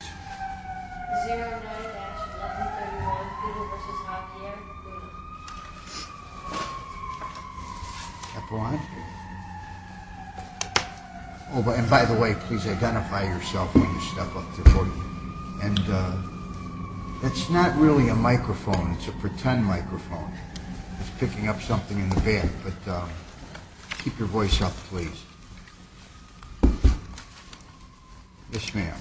0 9-11 31 Peter v. Javier Epeline Oh, and by the way, please identify yourself when you step up to the podium. And, uh, that's not really a microphone, it's a pretend microphone. It's picking up something in the back, but, uh, keep your voice up, please. Yes, ma'am.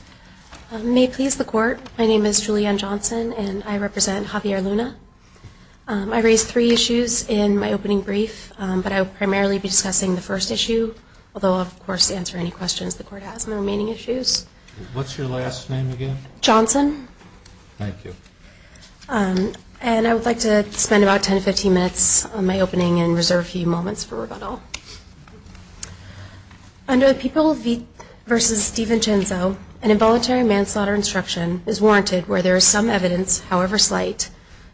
May it please the court, my name is Julianne Johnson, and I represent Javier Luna. I raised three issues in my opening brief, but I will primarily be discussing the first issue, although I'll, of course, answer any questions the court has on the remaining issues. What's your last name again? Johnson. Thank you. And I would like to spend about 10-15 minutes on my opening and reserve a few moments for rebuttal. Under the People v. Steve Vincenzo, an involuntary manslaughter instruction is warranted where there is some evidence, however slight,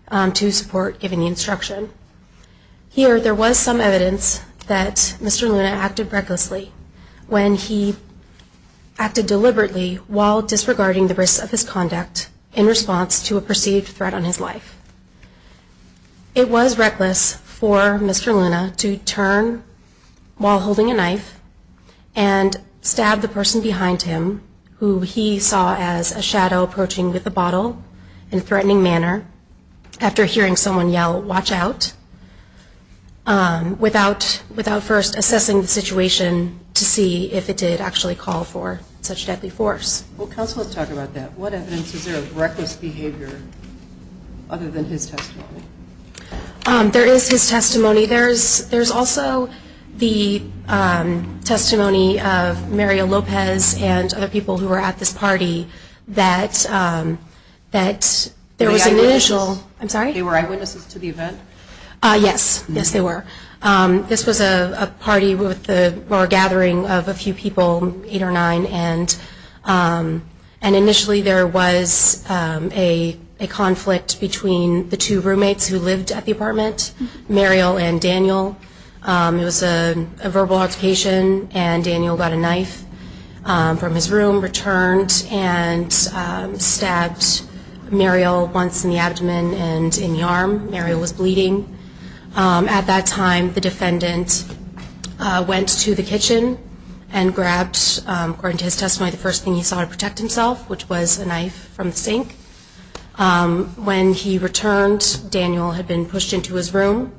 to support giving the instruction. Here, there was some evidence that Mr. Luna acted recklessly when he acted deliberately while disregarding the risks of his conduct in response to a perceived threat on his life. It was reckless for Mr. Luna to turn while holding a knife and stab the person behind him, who he saw as a shadow approaching with a bottle in a threatening manner, after hearing someone yell, watch out, without first assessing the situation to see if it did actually call for such deadly force. Well, counsel, let's talk about that. What evidence is there of reckless behavior other than his testimony? There is his testimony. There's also the testimony of Maria Lopez and other people who were at this party that there was an initial – Were they eyewitnesses? I'm sorry? They were eyewitnesses to the event? Yes. Yes, they were. This was a party or a gathering of a few people, eight or nine, and initially there was a conflict between the two roommates who lived at the apartment, Mariel and Daniel. It was a verbal altercation, and Daniel got a knife from his room, returned, and stabbed Mariel once in the abdomen and in the arm. Mariel was bleeding. At that time, the defendant went to the kitchen and grabbed, according to his testimony, the first thing he saw to protect himself, which was a knife from the sink. When he returned, Daniel had been pushed into his room,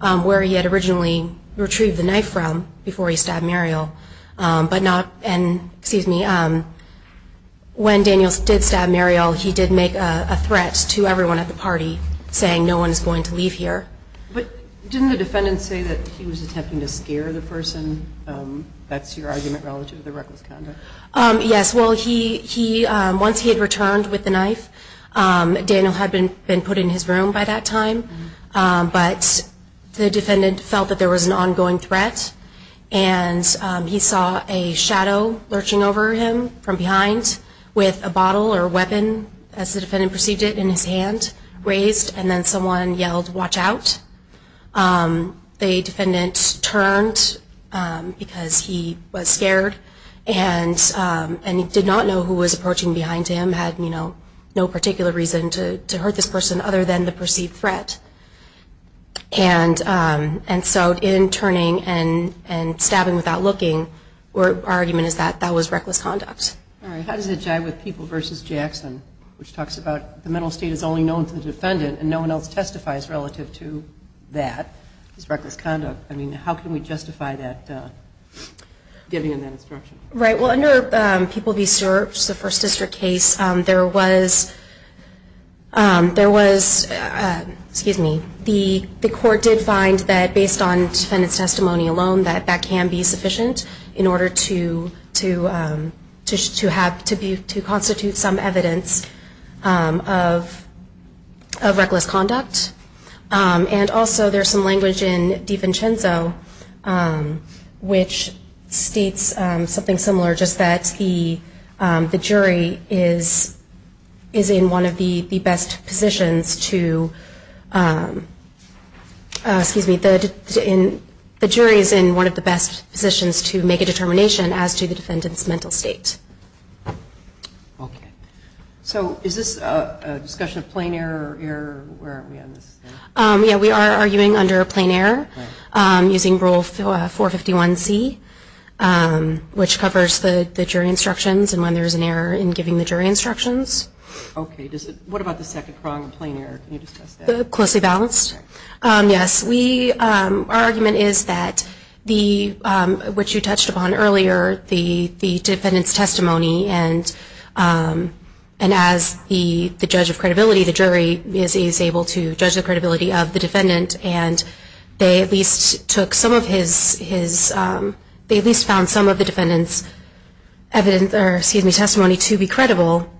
where he had originally retrieved the knife from before he stabbed Mariel. But not – and, excuse me, when Daniel did stab Mariel, he did make a threat to everyone at the party, saying, no one is going to leave here. But didn't the defendant say that he was attempting to scare the person? That's your argument relative to the reckless conduct. Yes, well, he – once he had returned with the knife, Daniel had been put in his room by that time, but the defendant felt that there was an ongoing threat, and he saw a shadow lurching over him from behind with a bottle or weapon, as the defendant perceived it, in his hand, raised, and then someone yelled, watch out. The defendant turned because he was scared, and he did not know who was approaching behind him, had no particular reason to hurt this person other than the perceived threat. And so in turning and stabbing without looking, our argument is that that was reckless conduct. All right, how does it jibe with People v. Jackson, which talks about the mental state is only known to the defendant and no one else testifies relative to that as reckless conduct? I mean, how can we justify that – giving them that instruction? Right, well, under People v. Serbs, the First District case, there was – excuse me – the court did find that, based on the defendant's testimony alone, that that can be sufficient in order to constitute some evidence of reckless conduct. And also there's some language in Di Vincenzo, which states something similar, just that the jury is in one of the best positions to make a determination as to the defendant's mental state. Okay. So is this a discussion of plain error? Yeah, we are arguing under plain error. Using Rule 451C, which covers the jury instructions and when there's an error in giving the jury instructions. Okay, what about the second prong of plain error? Can you discuss that? Closely balanced. Okay. Yes, we – our argument is that the – which you touched upon earlier, the defendant's testimony and as the judge of credibility, the jury is able to judge the credibility of the defendant and they at least took some of his – they at least found some of the defendant's evidence – or excuse me – testimony to be credible.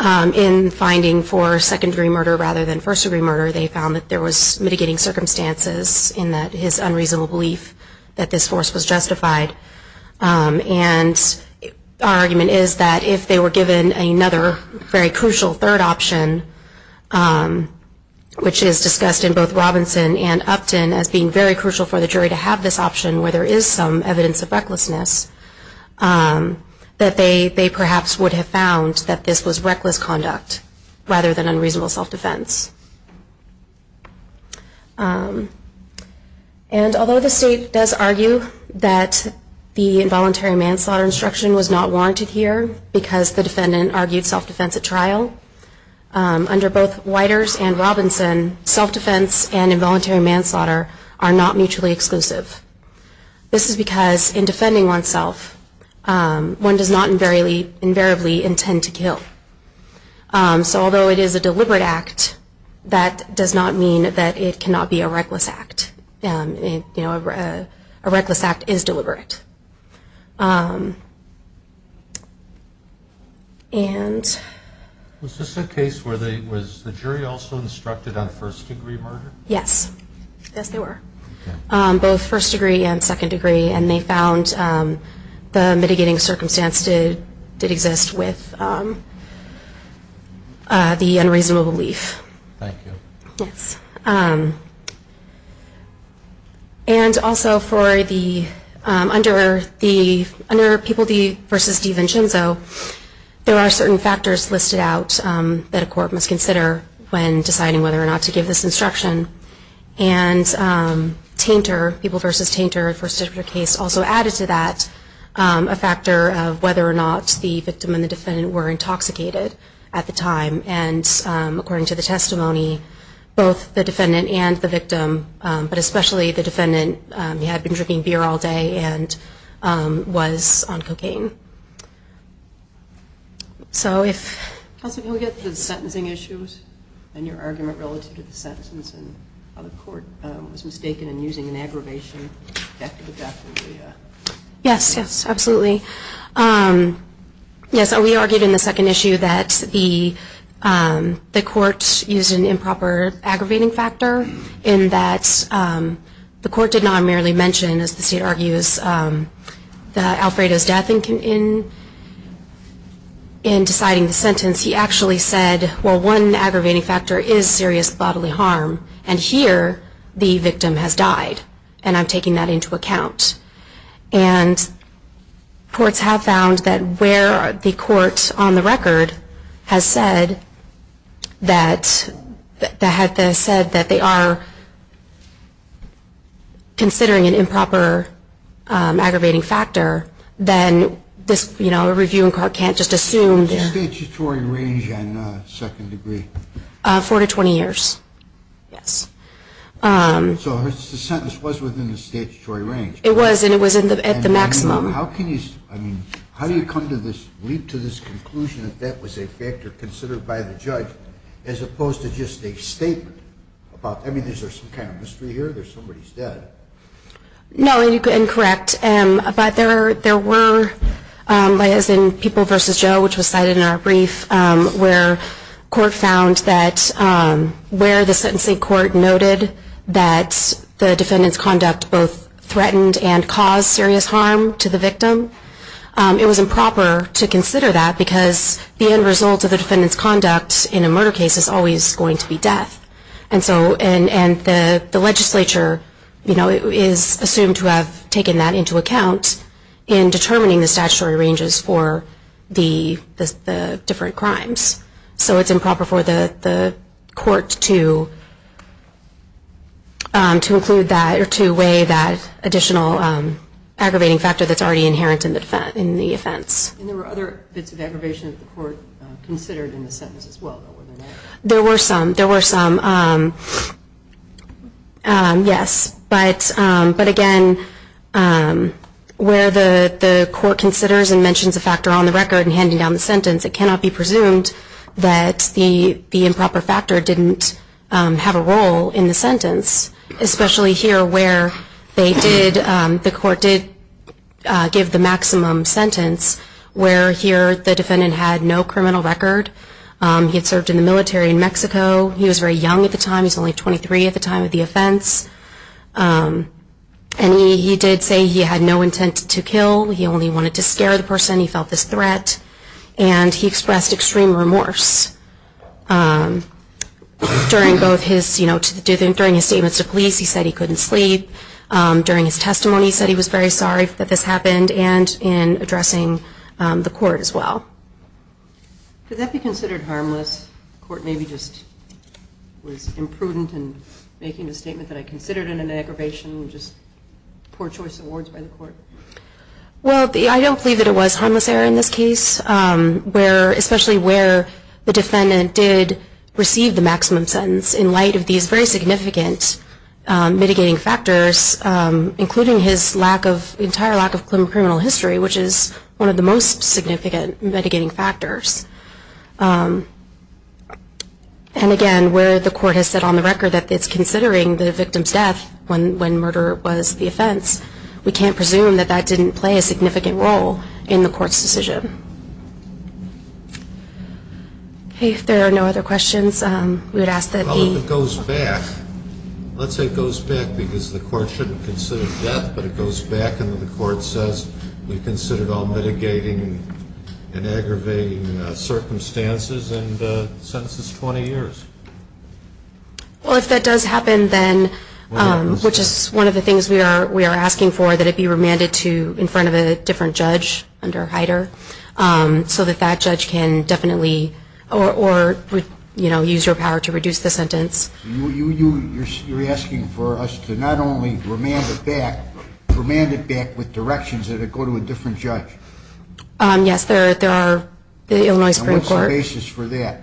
In finding for secondary murder rather than first-degree murder, they found that there was mitigating circumstances in that his unreasonable belief that this force was justified. And our argument is that if they were given another very crucial third option, which is discussed in both Robinson and Upton as being very crucial for the jury to have this option where there is some evidence of recklessness, that they perhaps would have found that this was reckless conduct rather than unreasonable self-defense. And although the state does argue that the involuntary manslaughter instruction was not warranted here because the defendant argued self-defense at trial, under both Whiters and Robinson, self-defense and involuntary manslaughter are not mutually exclusive. This is because in defending oneself, one does not invariably intend to kill. So although it is a deliberate act, that does not mean that it cannot be a reckless act. You know, a reckless act is deliberate. And... Was this a case where the jury also instructed on first-degree murder? Yes. Yes, they were. Both first-degree and second-degree, and they found the mitigating circumstance did exist with the unreasonable belief. Thank you. Yes. And also, under People v. DiVincenzo, there are certain factors listed out that a court must consider when deciding whether or not to give this instruction. And Tainter, People v. Tainter, first-degree case also added to that a factor of whether or not the victim and the defendant were intoxicated at the time. And according to the testimony, both the defendant and the victim, but especially the defendant, had been drinking beer all day and was on cocaine. So if... Counsel, can we get to the sentencing issues and your argument relative to the sentence and how the court was mistaken in using an aggravation effective at death? Yes. Yes, absolutely. Yes, so we argued in the second issue that the court used an improper aggravating factor in that the court did not merely mention, as the state argues, Alfredo's death in deciding the sentence. He actually said, well, one aggravating factor is serious bodily harm, and here the victim has died, and I'm taking that into account. And courts have found that where the court, on the record, has said that they are considering an improper aggravating factor, then a reviewing court can't just assume... The statutory range on second degree? Four to 20 years, yes. So the sentence was within the statutory range? It was, and it was at the maximum. How can you... I mean, how do you come to this, leap to this conclusion that that was a factor considered by the judge as opposed to just a statement about... I mean, is there some kind of mystery here? There's somebody's dead. No, you're incorrect. But there were, as in People v. Joe, which was cited in our brief, where court found that where the sentencing court noted that the defendant's conduct both threatened and caused serious harm to the victim, it was improper to consider that because the end result of the defendant's conduct in a murder case is always going to be death. And so, and the legislature, you know, is assumed to have taken that into account in determining the statutory ranges for the different crimes. So it's improper for the court to include that or to weigh that additional aggravating factor that's already inherent in the offense. And there were other bits of aggravation that the court considered in the sentence as well, though, were there not? There were some, there were some, yes. But again, where the court considers and mentions a factor on the record in handing down the sentence, it cannot be presumed that the improper factor didn't have a role in the sentence, especially here where they did, the court did give the maximum sentence, where here the defendant had no criminal record. He had served in the military in Mexico. He was very young at the time. He was only 23 at the time of the offense. And he did say he had no intent to kill. He only wanted to scare the person. He felt this threat. And he expressed extreme remorse. During both his, you know, during his statements to police, he said he couldn't sleep. During his testimony, he said he was very sorry that this happened and in addressing the court as well. Could that be considered harmless? The court maybe just was imprudent in making the statement that I considered an aggravation, just poor choice of words by the court? Well, I don't believe that it was harmless error in this case, especially where the defendant did receive the maximum sentence in light of these very significant mitigating factors, including his entire lack of criminal history, which is one of the most significant mitigating factors. And again, where the court has said on the record when murder was the offense, we can't presume that that didn't play a significant role in the court's decision. Okay, if there are no other questions, we would ask that the... Well, if it goes back, let's say it goes back because the court shouldn't consider death, but it goes back and the court says we considered all mitigating and aggravating circumstances and sentences 20 years. Well, if that does happen, then, which is one of the things we are asking for, that it be remanded to in front of a different judge under Hyder so that that judge can definitely... or, you know, use your power to reduce the sentence. You're asking for us to not only remand it back, remand it back with directions that it go to a different judge? Yes, there are... And what's the basis for that?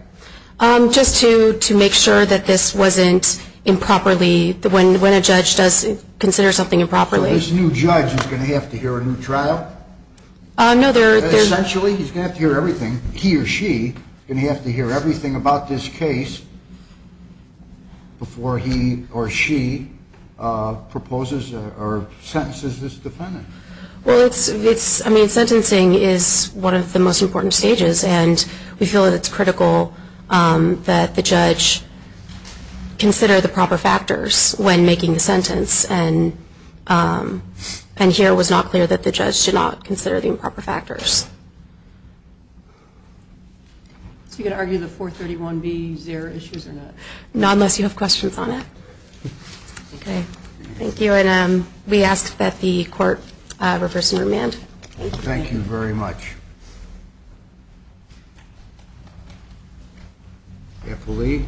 Just to make sure that this wasn't improperly... When a judge does consider something improperly... So this new judge is going to have to hear a new trial? No, there's... Essentially, he's going to have to hear everything, he or she, going to have to hear everything about this case before he or she proposes or sentences this defendant. Well, it's... I mean, sentencing is one of the most important stages, and we feel that it's critical that the judge consider the proper factors when making a sentence, and here it was not clear that the judge did not consider the improper factors. So you could argue the 431B is zero issues or not? No, unless you have questions on it. Okay, thank you. And we ask that the court reverse and remand. Thank you very much. Carefully.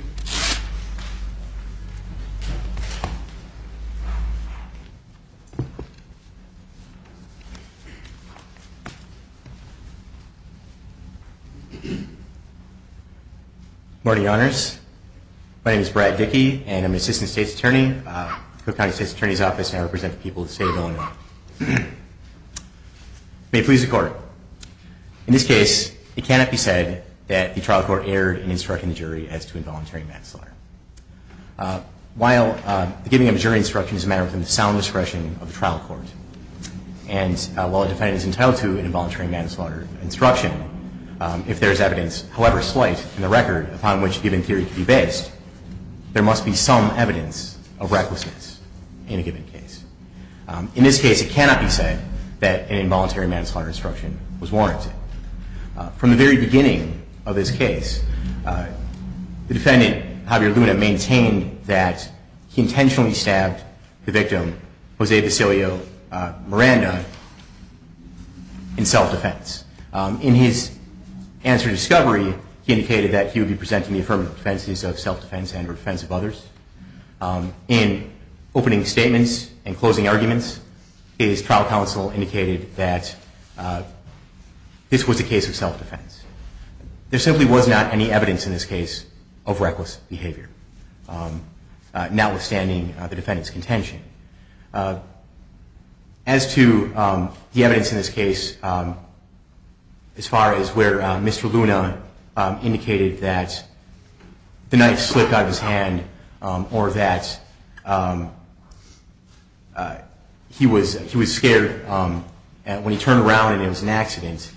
Morning, Your Honors. My name is Brad Dickey, and I'm an assistant state's attorney at the Cook County State's Attorney's Office, and I represent the people of the state of Illinois. May it please the Court. In this case, it cannot be said that the trial court erred in instructing the jury as to involuntary manslaughter. While giving a jury instruction is a matter within the sound discretion of the trial court, and while a defendant is entitled to an involuntary manslaughter instruction, if there is evidence, however slight in the record, upon which a given theory could be based, there must be some evidence of recklessness in a given case. In this case, it cannot be said that an involuntary manslaughter instruction was warranted. From the very beginning of this case, the defendant, Javier Luna, maintained that he intentionally stabbed the victim, Jose Vasilio Miranda, in self-defense. In his answer to discovery, he indicated that he would be presenting the affirmative defenses of self-defense and the defense of others. In opening statements and closing arguments, his trial counsel indicated that this was a case of self-defense. There simply was not any evidence in this case of reckless behavior, notwithstanding the defendant's contention. As to the evidence in this case, as far as where Mr. Luna indicated that the knife slipped out of his hand or that he was scared when he turned around and it was an accident,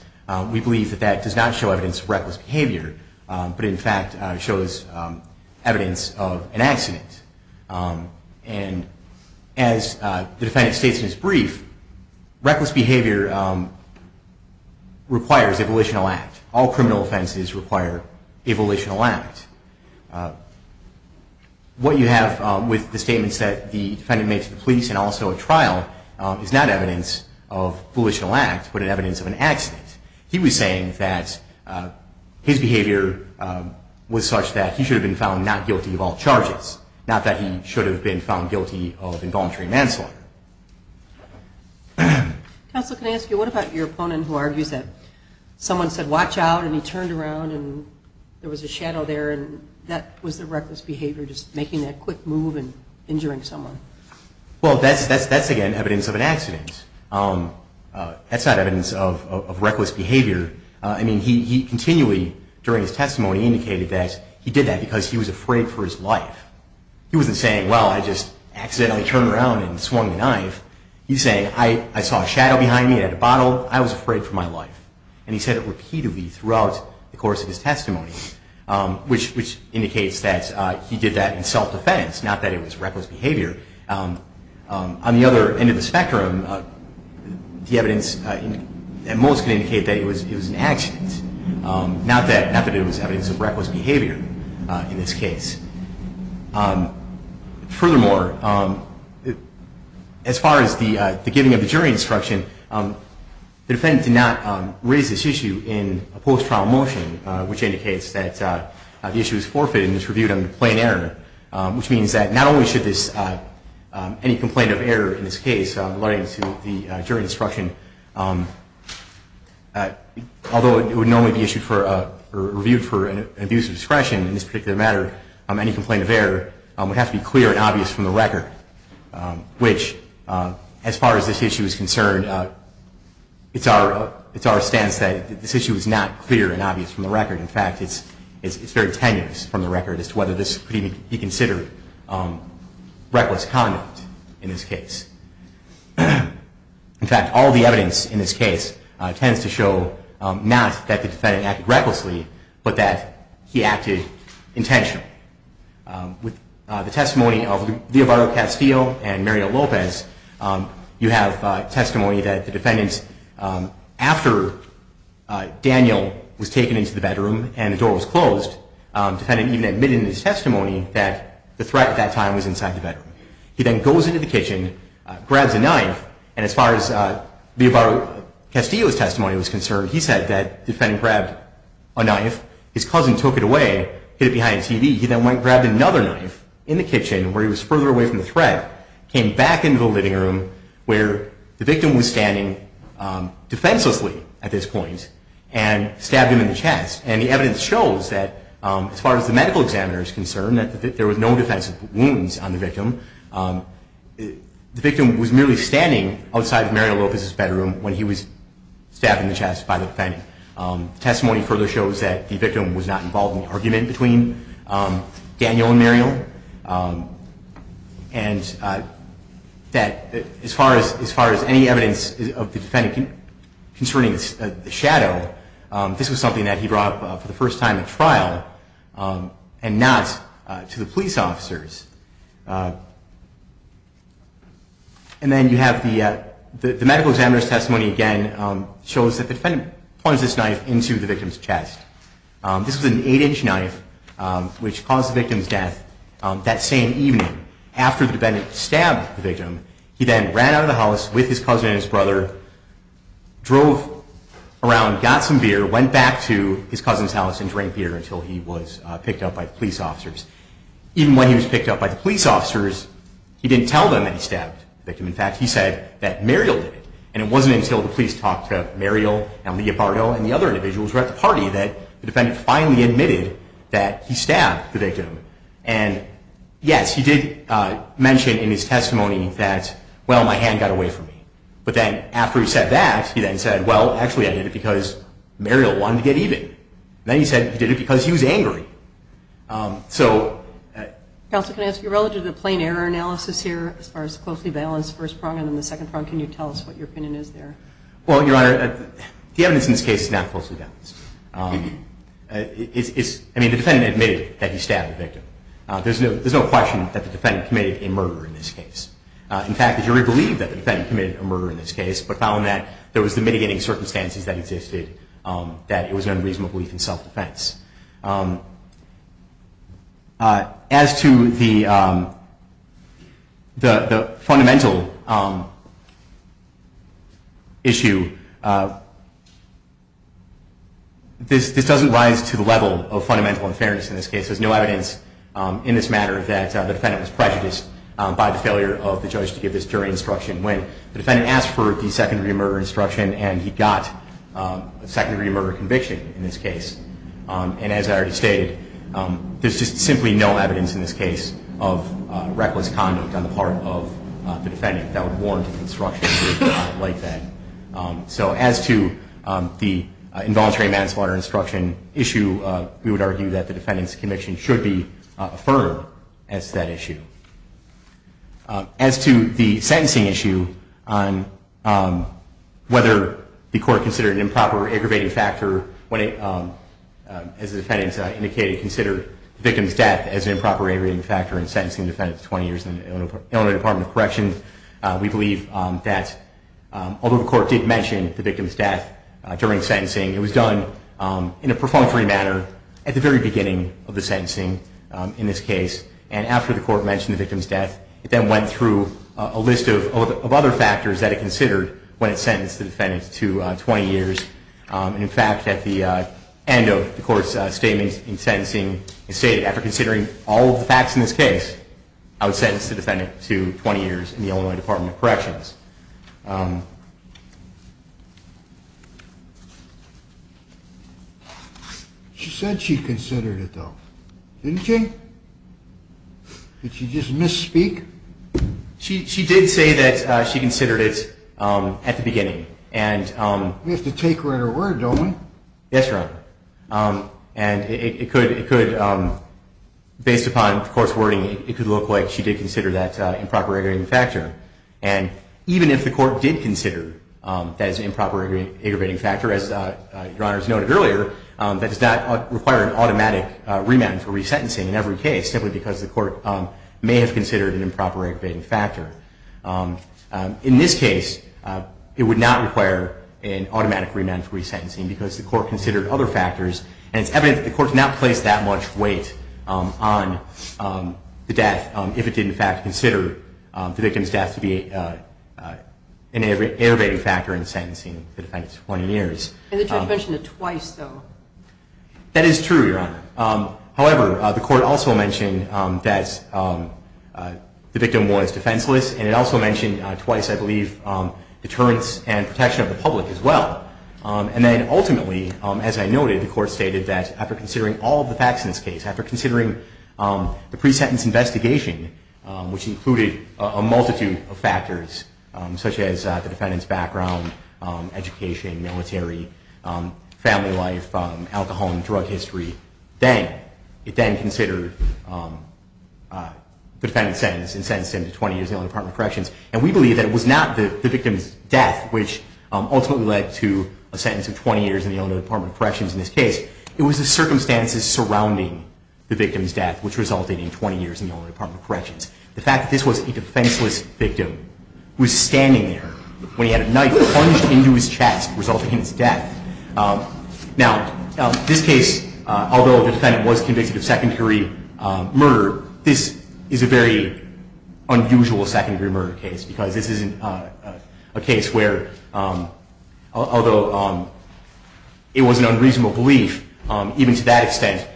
we believe that that does not show evidence of reckless behavior, but in fact shows evidence of an accident. As the defendant states in his brief, reckless behavior requires a volitional act. All criminal offenses require a volitional act. What you have with the statements that the defendant made to the police and also at trial is not evidence of volitional act, but evidence of an accident. He was saying that his behavior was such that he should have been found not guilty of all charges, not that he should have been found guilty of involuntary manslaughter. Counsel, can I ask you, what about your opponent who argues that someone said, watch out, and he turned around and there was a shadow there, and that was the reckless behavior, just making that quick move and injuring someone? Well, that's, again, evidence of an accident. That's not evidence of reckless behavior. I mean, he continually, during his testimony, indicated that he did that because he was afraid for his life. He wasn't saying, well, I just accidentally turned around and swung the knife. He's saying, I saw a shadow behind me at a bottle. I was afraid for my life. And he said it repeatedly throughout the course of his testimony, which indicates that he did that in self-defense, not that it was reckless behavior. On the other end of the spectrum, the evidence at most can indicate that it was an accident, not that it was evidence of reckless behavior in this case. Furthermore, as far as the giving of the jury instruction, the defendant did not raise this issue in a post-trial motion, which indicates that the issue is forfeited and is reviewed under plain error, which means that not only should any complaint of error in this case relating to the jury instruction, although it would normally be reviewed for an abuse of discretion in this particular matter, any complaint of error would have to be clear and obvious from the record, which, as far as this issue is concerned, it's our stance that this issue is not clear and obvious from the record. In fact, it's very tenuous from the record as to whether this could even be considered reckless conduct in this case. In fact, all the evidence in this case tends to show not that the defendant acted recklessly, but that he acted intentionally. With the testimony of Villavaro-Castillo and Mariel Lopez, you have testimony that the defendant, after Daniel was taken into the bedroom and the door was closed, the defendant even admitted in his testimony that the threat at that time was inside the bedroom. He then goes into the kitchen, grabs a knife, and as far as Villavaro-Castillo's testimony was concerned, he said that the defendant grabbed a knife, his cousin took it away, hid it behind a TV. He then went and grabbed another knife in the kitchen, where he was further away from the threat, came back into the living room, where the victim was standing defenselessly at this point, and stabbed him in the chest. And the evidence shows that, as far as the medical examiner is concerned, that there were no defensive wounds on the victim. The victim was merely standing outside of Mariel Lopez's bedroom when he was stabbed in the chest by the defendant. The testimony further shows that the victim was not involved in the argument between Daniel and Mariel. And that, as far as any evidence of the defendant concerning the shadow, this was something that he brought up for the first time at trial and not to the police officers. And then you have the medical examiner's testimony again, shows that the defendant plunged this knife into the victim's chest. This was an 8-inch knife, which caused the victim's death that same evening. After the defendant stabbed the victim, he then ran out of the house with his cousin and his brother, drove around, got some beer, went back to his cousin's house and drank beer until he was picked up by the police officers. Even when he was picked up by the police officers, he didn't tell them that he stabbed the victim. In fact, he said that Mariel did it. And it wasn't until the police talked to Mariel and Leopardo and the other individuals who were at the party that the defendant finally admitted that he stabbed the victim. And yes, he did mention in his testimony that, well, my hand got away from me. But then after he said that, he then said, well, actually I did it because Mariel wanted to get even. Then he said he did it because he was angry. Counselor, can I ask you, relative to the plain error analysis here, as far as the closely balanced first prong and the second prong, can you tell us what your opinion is there? Well, Your Honor, the evidence in this case is not closely balanced. I mean, the defendant admitted that he stabbed the victim. There's no question that the defendant committed a murder in this case. In fact, the jury believed that the defendant committed a murder in this case but found that there was the mitigating circumstances that existed, that it was an unreasonable belief in self-defense. As to the fundamental issue, this doesn't rise to the level of fundamental unfairness in this case. There's no evidence in this matter that the defendant was prejudiced by the failure of the judge to give this jury instruction when the defendant asked for the secondary murder instruction and he got a secondary murder conviction in this case. And as I already stated, there's just simply no evidence in this case of reckless conduct on the part of the defendant that would warrant an instruction like that. So as to the involuntary manslaughter instruction issue, we would argue that the defendant's conviction should be affirmed as that issue. As to the sentencing issue on whether the court considered an improper aggravating factor when it, as the defendant indicated, considered the victim's death as an improper aggravating factor in sentencing the defendant to 20 years in the Illinois Department of Corrections, we believe that although the court did mention the victim's death during sentencing, it was done in a perfunctory manner at the very beginning of the sentencing in this case. And after the court mentioned the victim's death, it then went through a list of other factors that it considered when it sentenced the defendant to 20 years. And in fact, at the end of the court's statement in sentencing, it stated, after considering all of the facts in this case, I would sentence the defendant to 20 years in the Illinois Department of Corrections. She said she considered it, though. Didn't she? Did she just misspeak? She did say that she considered it at the beginning. We have to take her at her word, don't we? Yes, Your Honor. And it could, based upon court's wording, it could look like she did consider that improper aggravating factor. And even if the court did consider that as an improper aggravating factor, as Your Honor has noted earlier, that does not require an automatic remand for resentencing in every case, simply because the court may have considered an improper aggravating factor. In this case, it would not require an automatic remand for resentencing because the court considered other factors. And it's evident that the court did not place that much weight on the death if it did, in fact, consider the victim's death to be an aggravating factor in sentencing the defendant to 20 years. And the judge mentioned it twice, though. That is true, Your Honor. However, the court also mentioned that the victim was defenseless, and it also mentioned twice, I believe, deterrence and protection of the public as well. And then, ultimately, as I noted, the court stated that, after considering all of the facts in this case, after considering the pre-sentence investigation, which included a multitude of factors, such as the defendant's background, education, military, family life, alcohol and drug history, it then considered the defendant's sentence and sentenced him to 20 years in the Illinois Department of Corrections. And we believe that it was not the victim's death, which ultimately led to a sentence of 20 years in the Illinois Department of Corrections in this case. It was the circumstances surrounding the victim's death, which resulted in 20 years in the Illinois Department of Corrections. The fact that this was a defenseless victim, who was standing there when he had a knife plunged into his chest, resulting in his death. Now, this case, although the defendant was convicted of secondary murder, this is a very unusual secondary murder case, because this is a case where, although it was an unreasonable belief, even to that extent,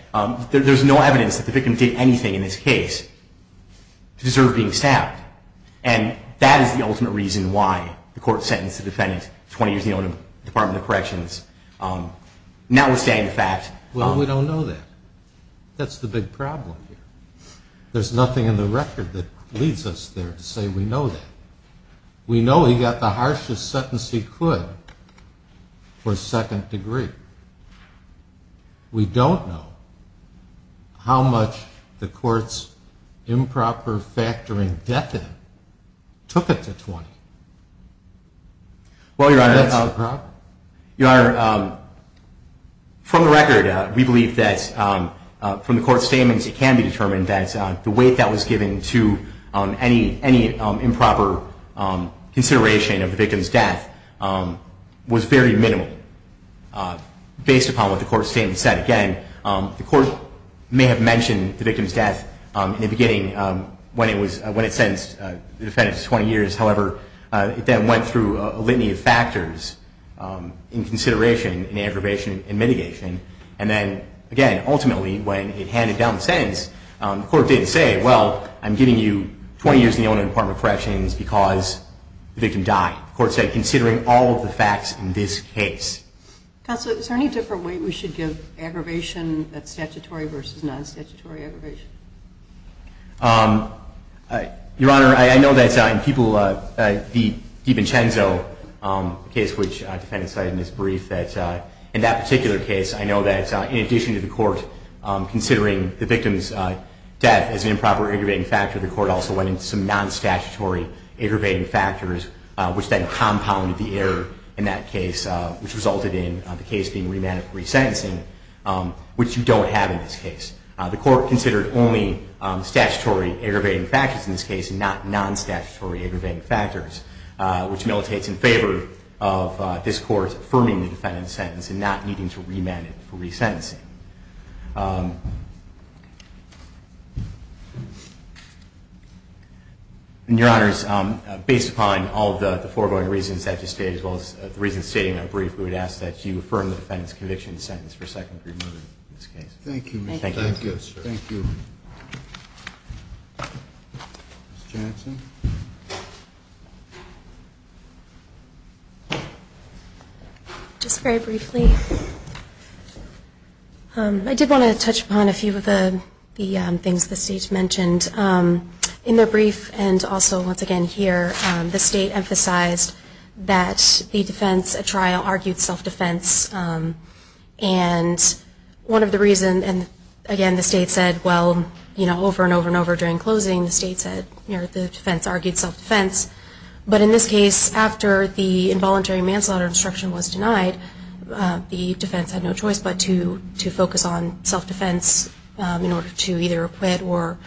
there's no evidence that the victim did anything in this case to deserve being stabbed. And that is the ultimate reason why the court sentenced the defendant to 20 years in the Illinois Department of Corrections, notwithstanding the fact... Well, we don't know that. That's the big problem here. There's nothing in the record that leads us there to say we know that. We know he got the harshest sentence he could for second degree. We don't know how much the court's improper factoring death in took it to 20. That's the problem. Your Honor, from the record, we believe that from the court's statements, it can be determined that the weight that was given to any improper consideration of the victim's death was very minimal. Based upon what the court's statement said, again, the court may have mentioned the victim's death in the beginning when it sentenced the defendant to 20 years. However, it then went through a litany of factors in consideration, in aggravation, in mitigation. And then, again, ultimately, when it handed down the sentence, the court didn't say, well, I'm giving you 20 years in the owner department of Corrections because the victim died. The court said, considering all of the facts in this case. Counsel, is there any different way we should give aggravation that's statutory versus non-statutory aggravation? Your Honor, I know that in the DiVincenzo case, which the defendant cited in his brief, that in that particular case, I know that in addition to the court considering the victim's death as an improper aggravating factor, the court also went into some non-statutory aggravating factors, which then compounded the error in that case, which resulted in the case being remanded for resentencing, which you don't have in this case. The court considered only statutory aggravating factors in this case and not non-statutory aggravating factors, which militates in favor of this court affirming the defendant's sentence and not needing to remand it for resentencing. Your Honor, based upon all of the foregoing reasons that you stated as well as the reasons stated in that brief, we would ask that you affirm the defendant's conviction and sentence for second degree murder in this case. Thank you. Thank you. Thank you, sir. Thank you. Just very briefly, I did want to touch upon the fact a few of the things the state mentioned. In their brief and also once again here, the state emphasized that the defense at trial argued self-defense. And one of the reasons, and again, the state said, well, over and over and over during closing, the state said the defense argued self-defense. But in this case, after the involuntary manslaughter instruction was denied, the defense had no choice but to focus on self-defense in order to either acquit or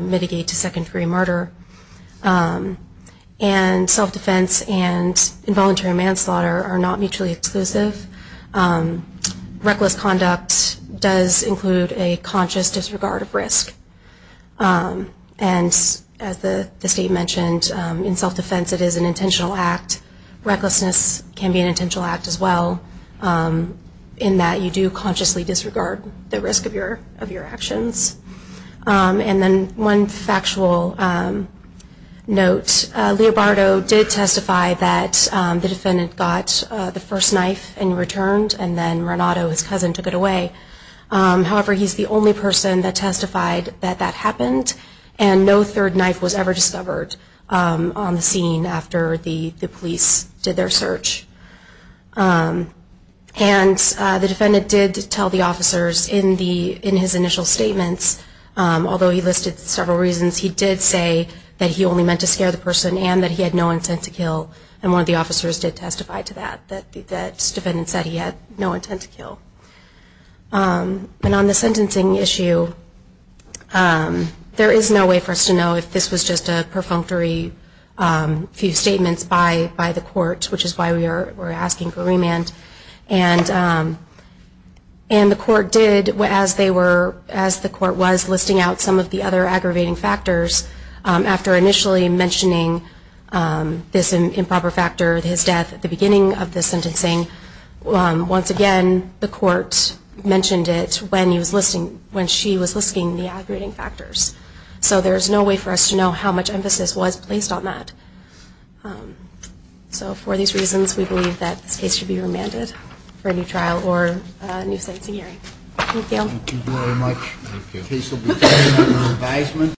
mitigate to second degree murder. And self-defense and involuntary manslaughter are not mutually exclusive. Reckless conduct does include a conscious disregard of risk. And as the state mentioned, in self-defense it is an intentional act. Recklessness can be an intentional act as well, in that you do consciously disregard the risk of your actions. And then one factual note, Leobardo did testify that the defendant got the first knife and returned, and then Renato, his cousin, took it away. However, he's the only person that testified that that happened, and no third knife was ever discovered on the scene after the police did their search. And the defendant did tell the officers in his initial statements, although he listed several reasons, he did say that he only meant to scare the person and that he had no intent to kill. And one of the officers did testify to that, that the defendant said he had no intent to kill. And on the sentencing issue, there is no way for us to know if this was just a perfunctory few statements by the court, which is why we are asking for remand. And the court did, as the court was, listing out some of the other aggravating factors. After initially mentioning this improper factor, his death at the beginning of the sentencing, once again, the court mentioned it when he was listing, when she was listing the aggravating factors. So there is no way for us to know how much emphasis was placed on that. So for these reasons, we believe that this case should be remanded for a new trial or a new sentencing hearing. Thank you. Thank you very much. Thank you. The case will be taken under advisement.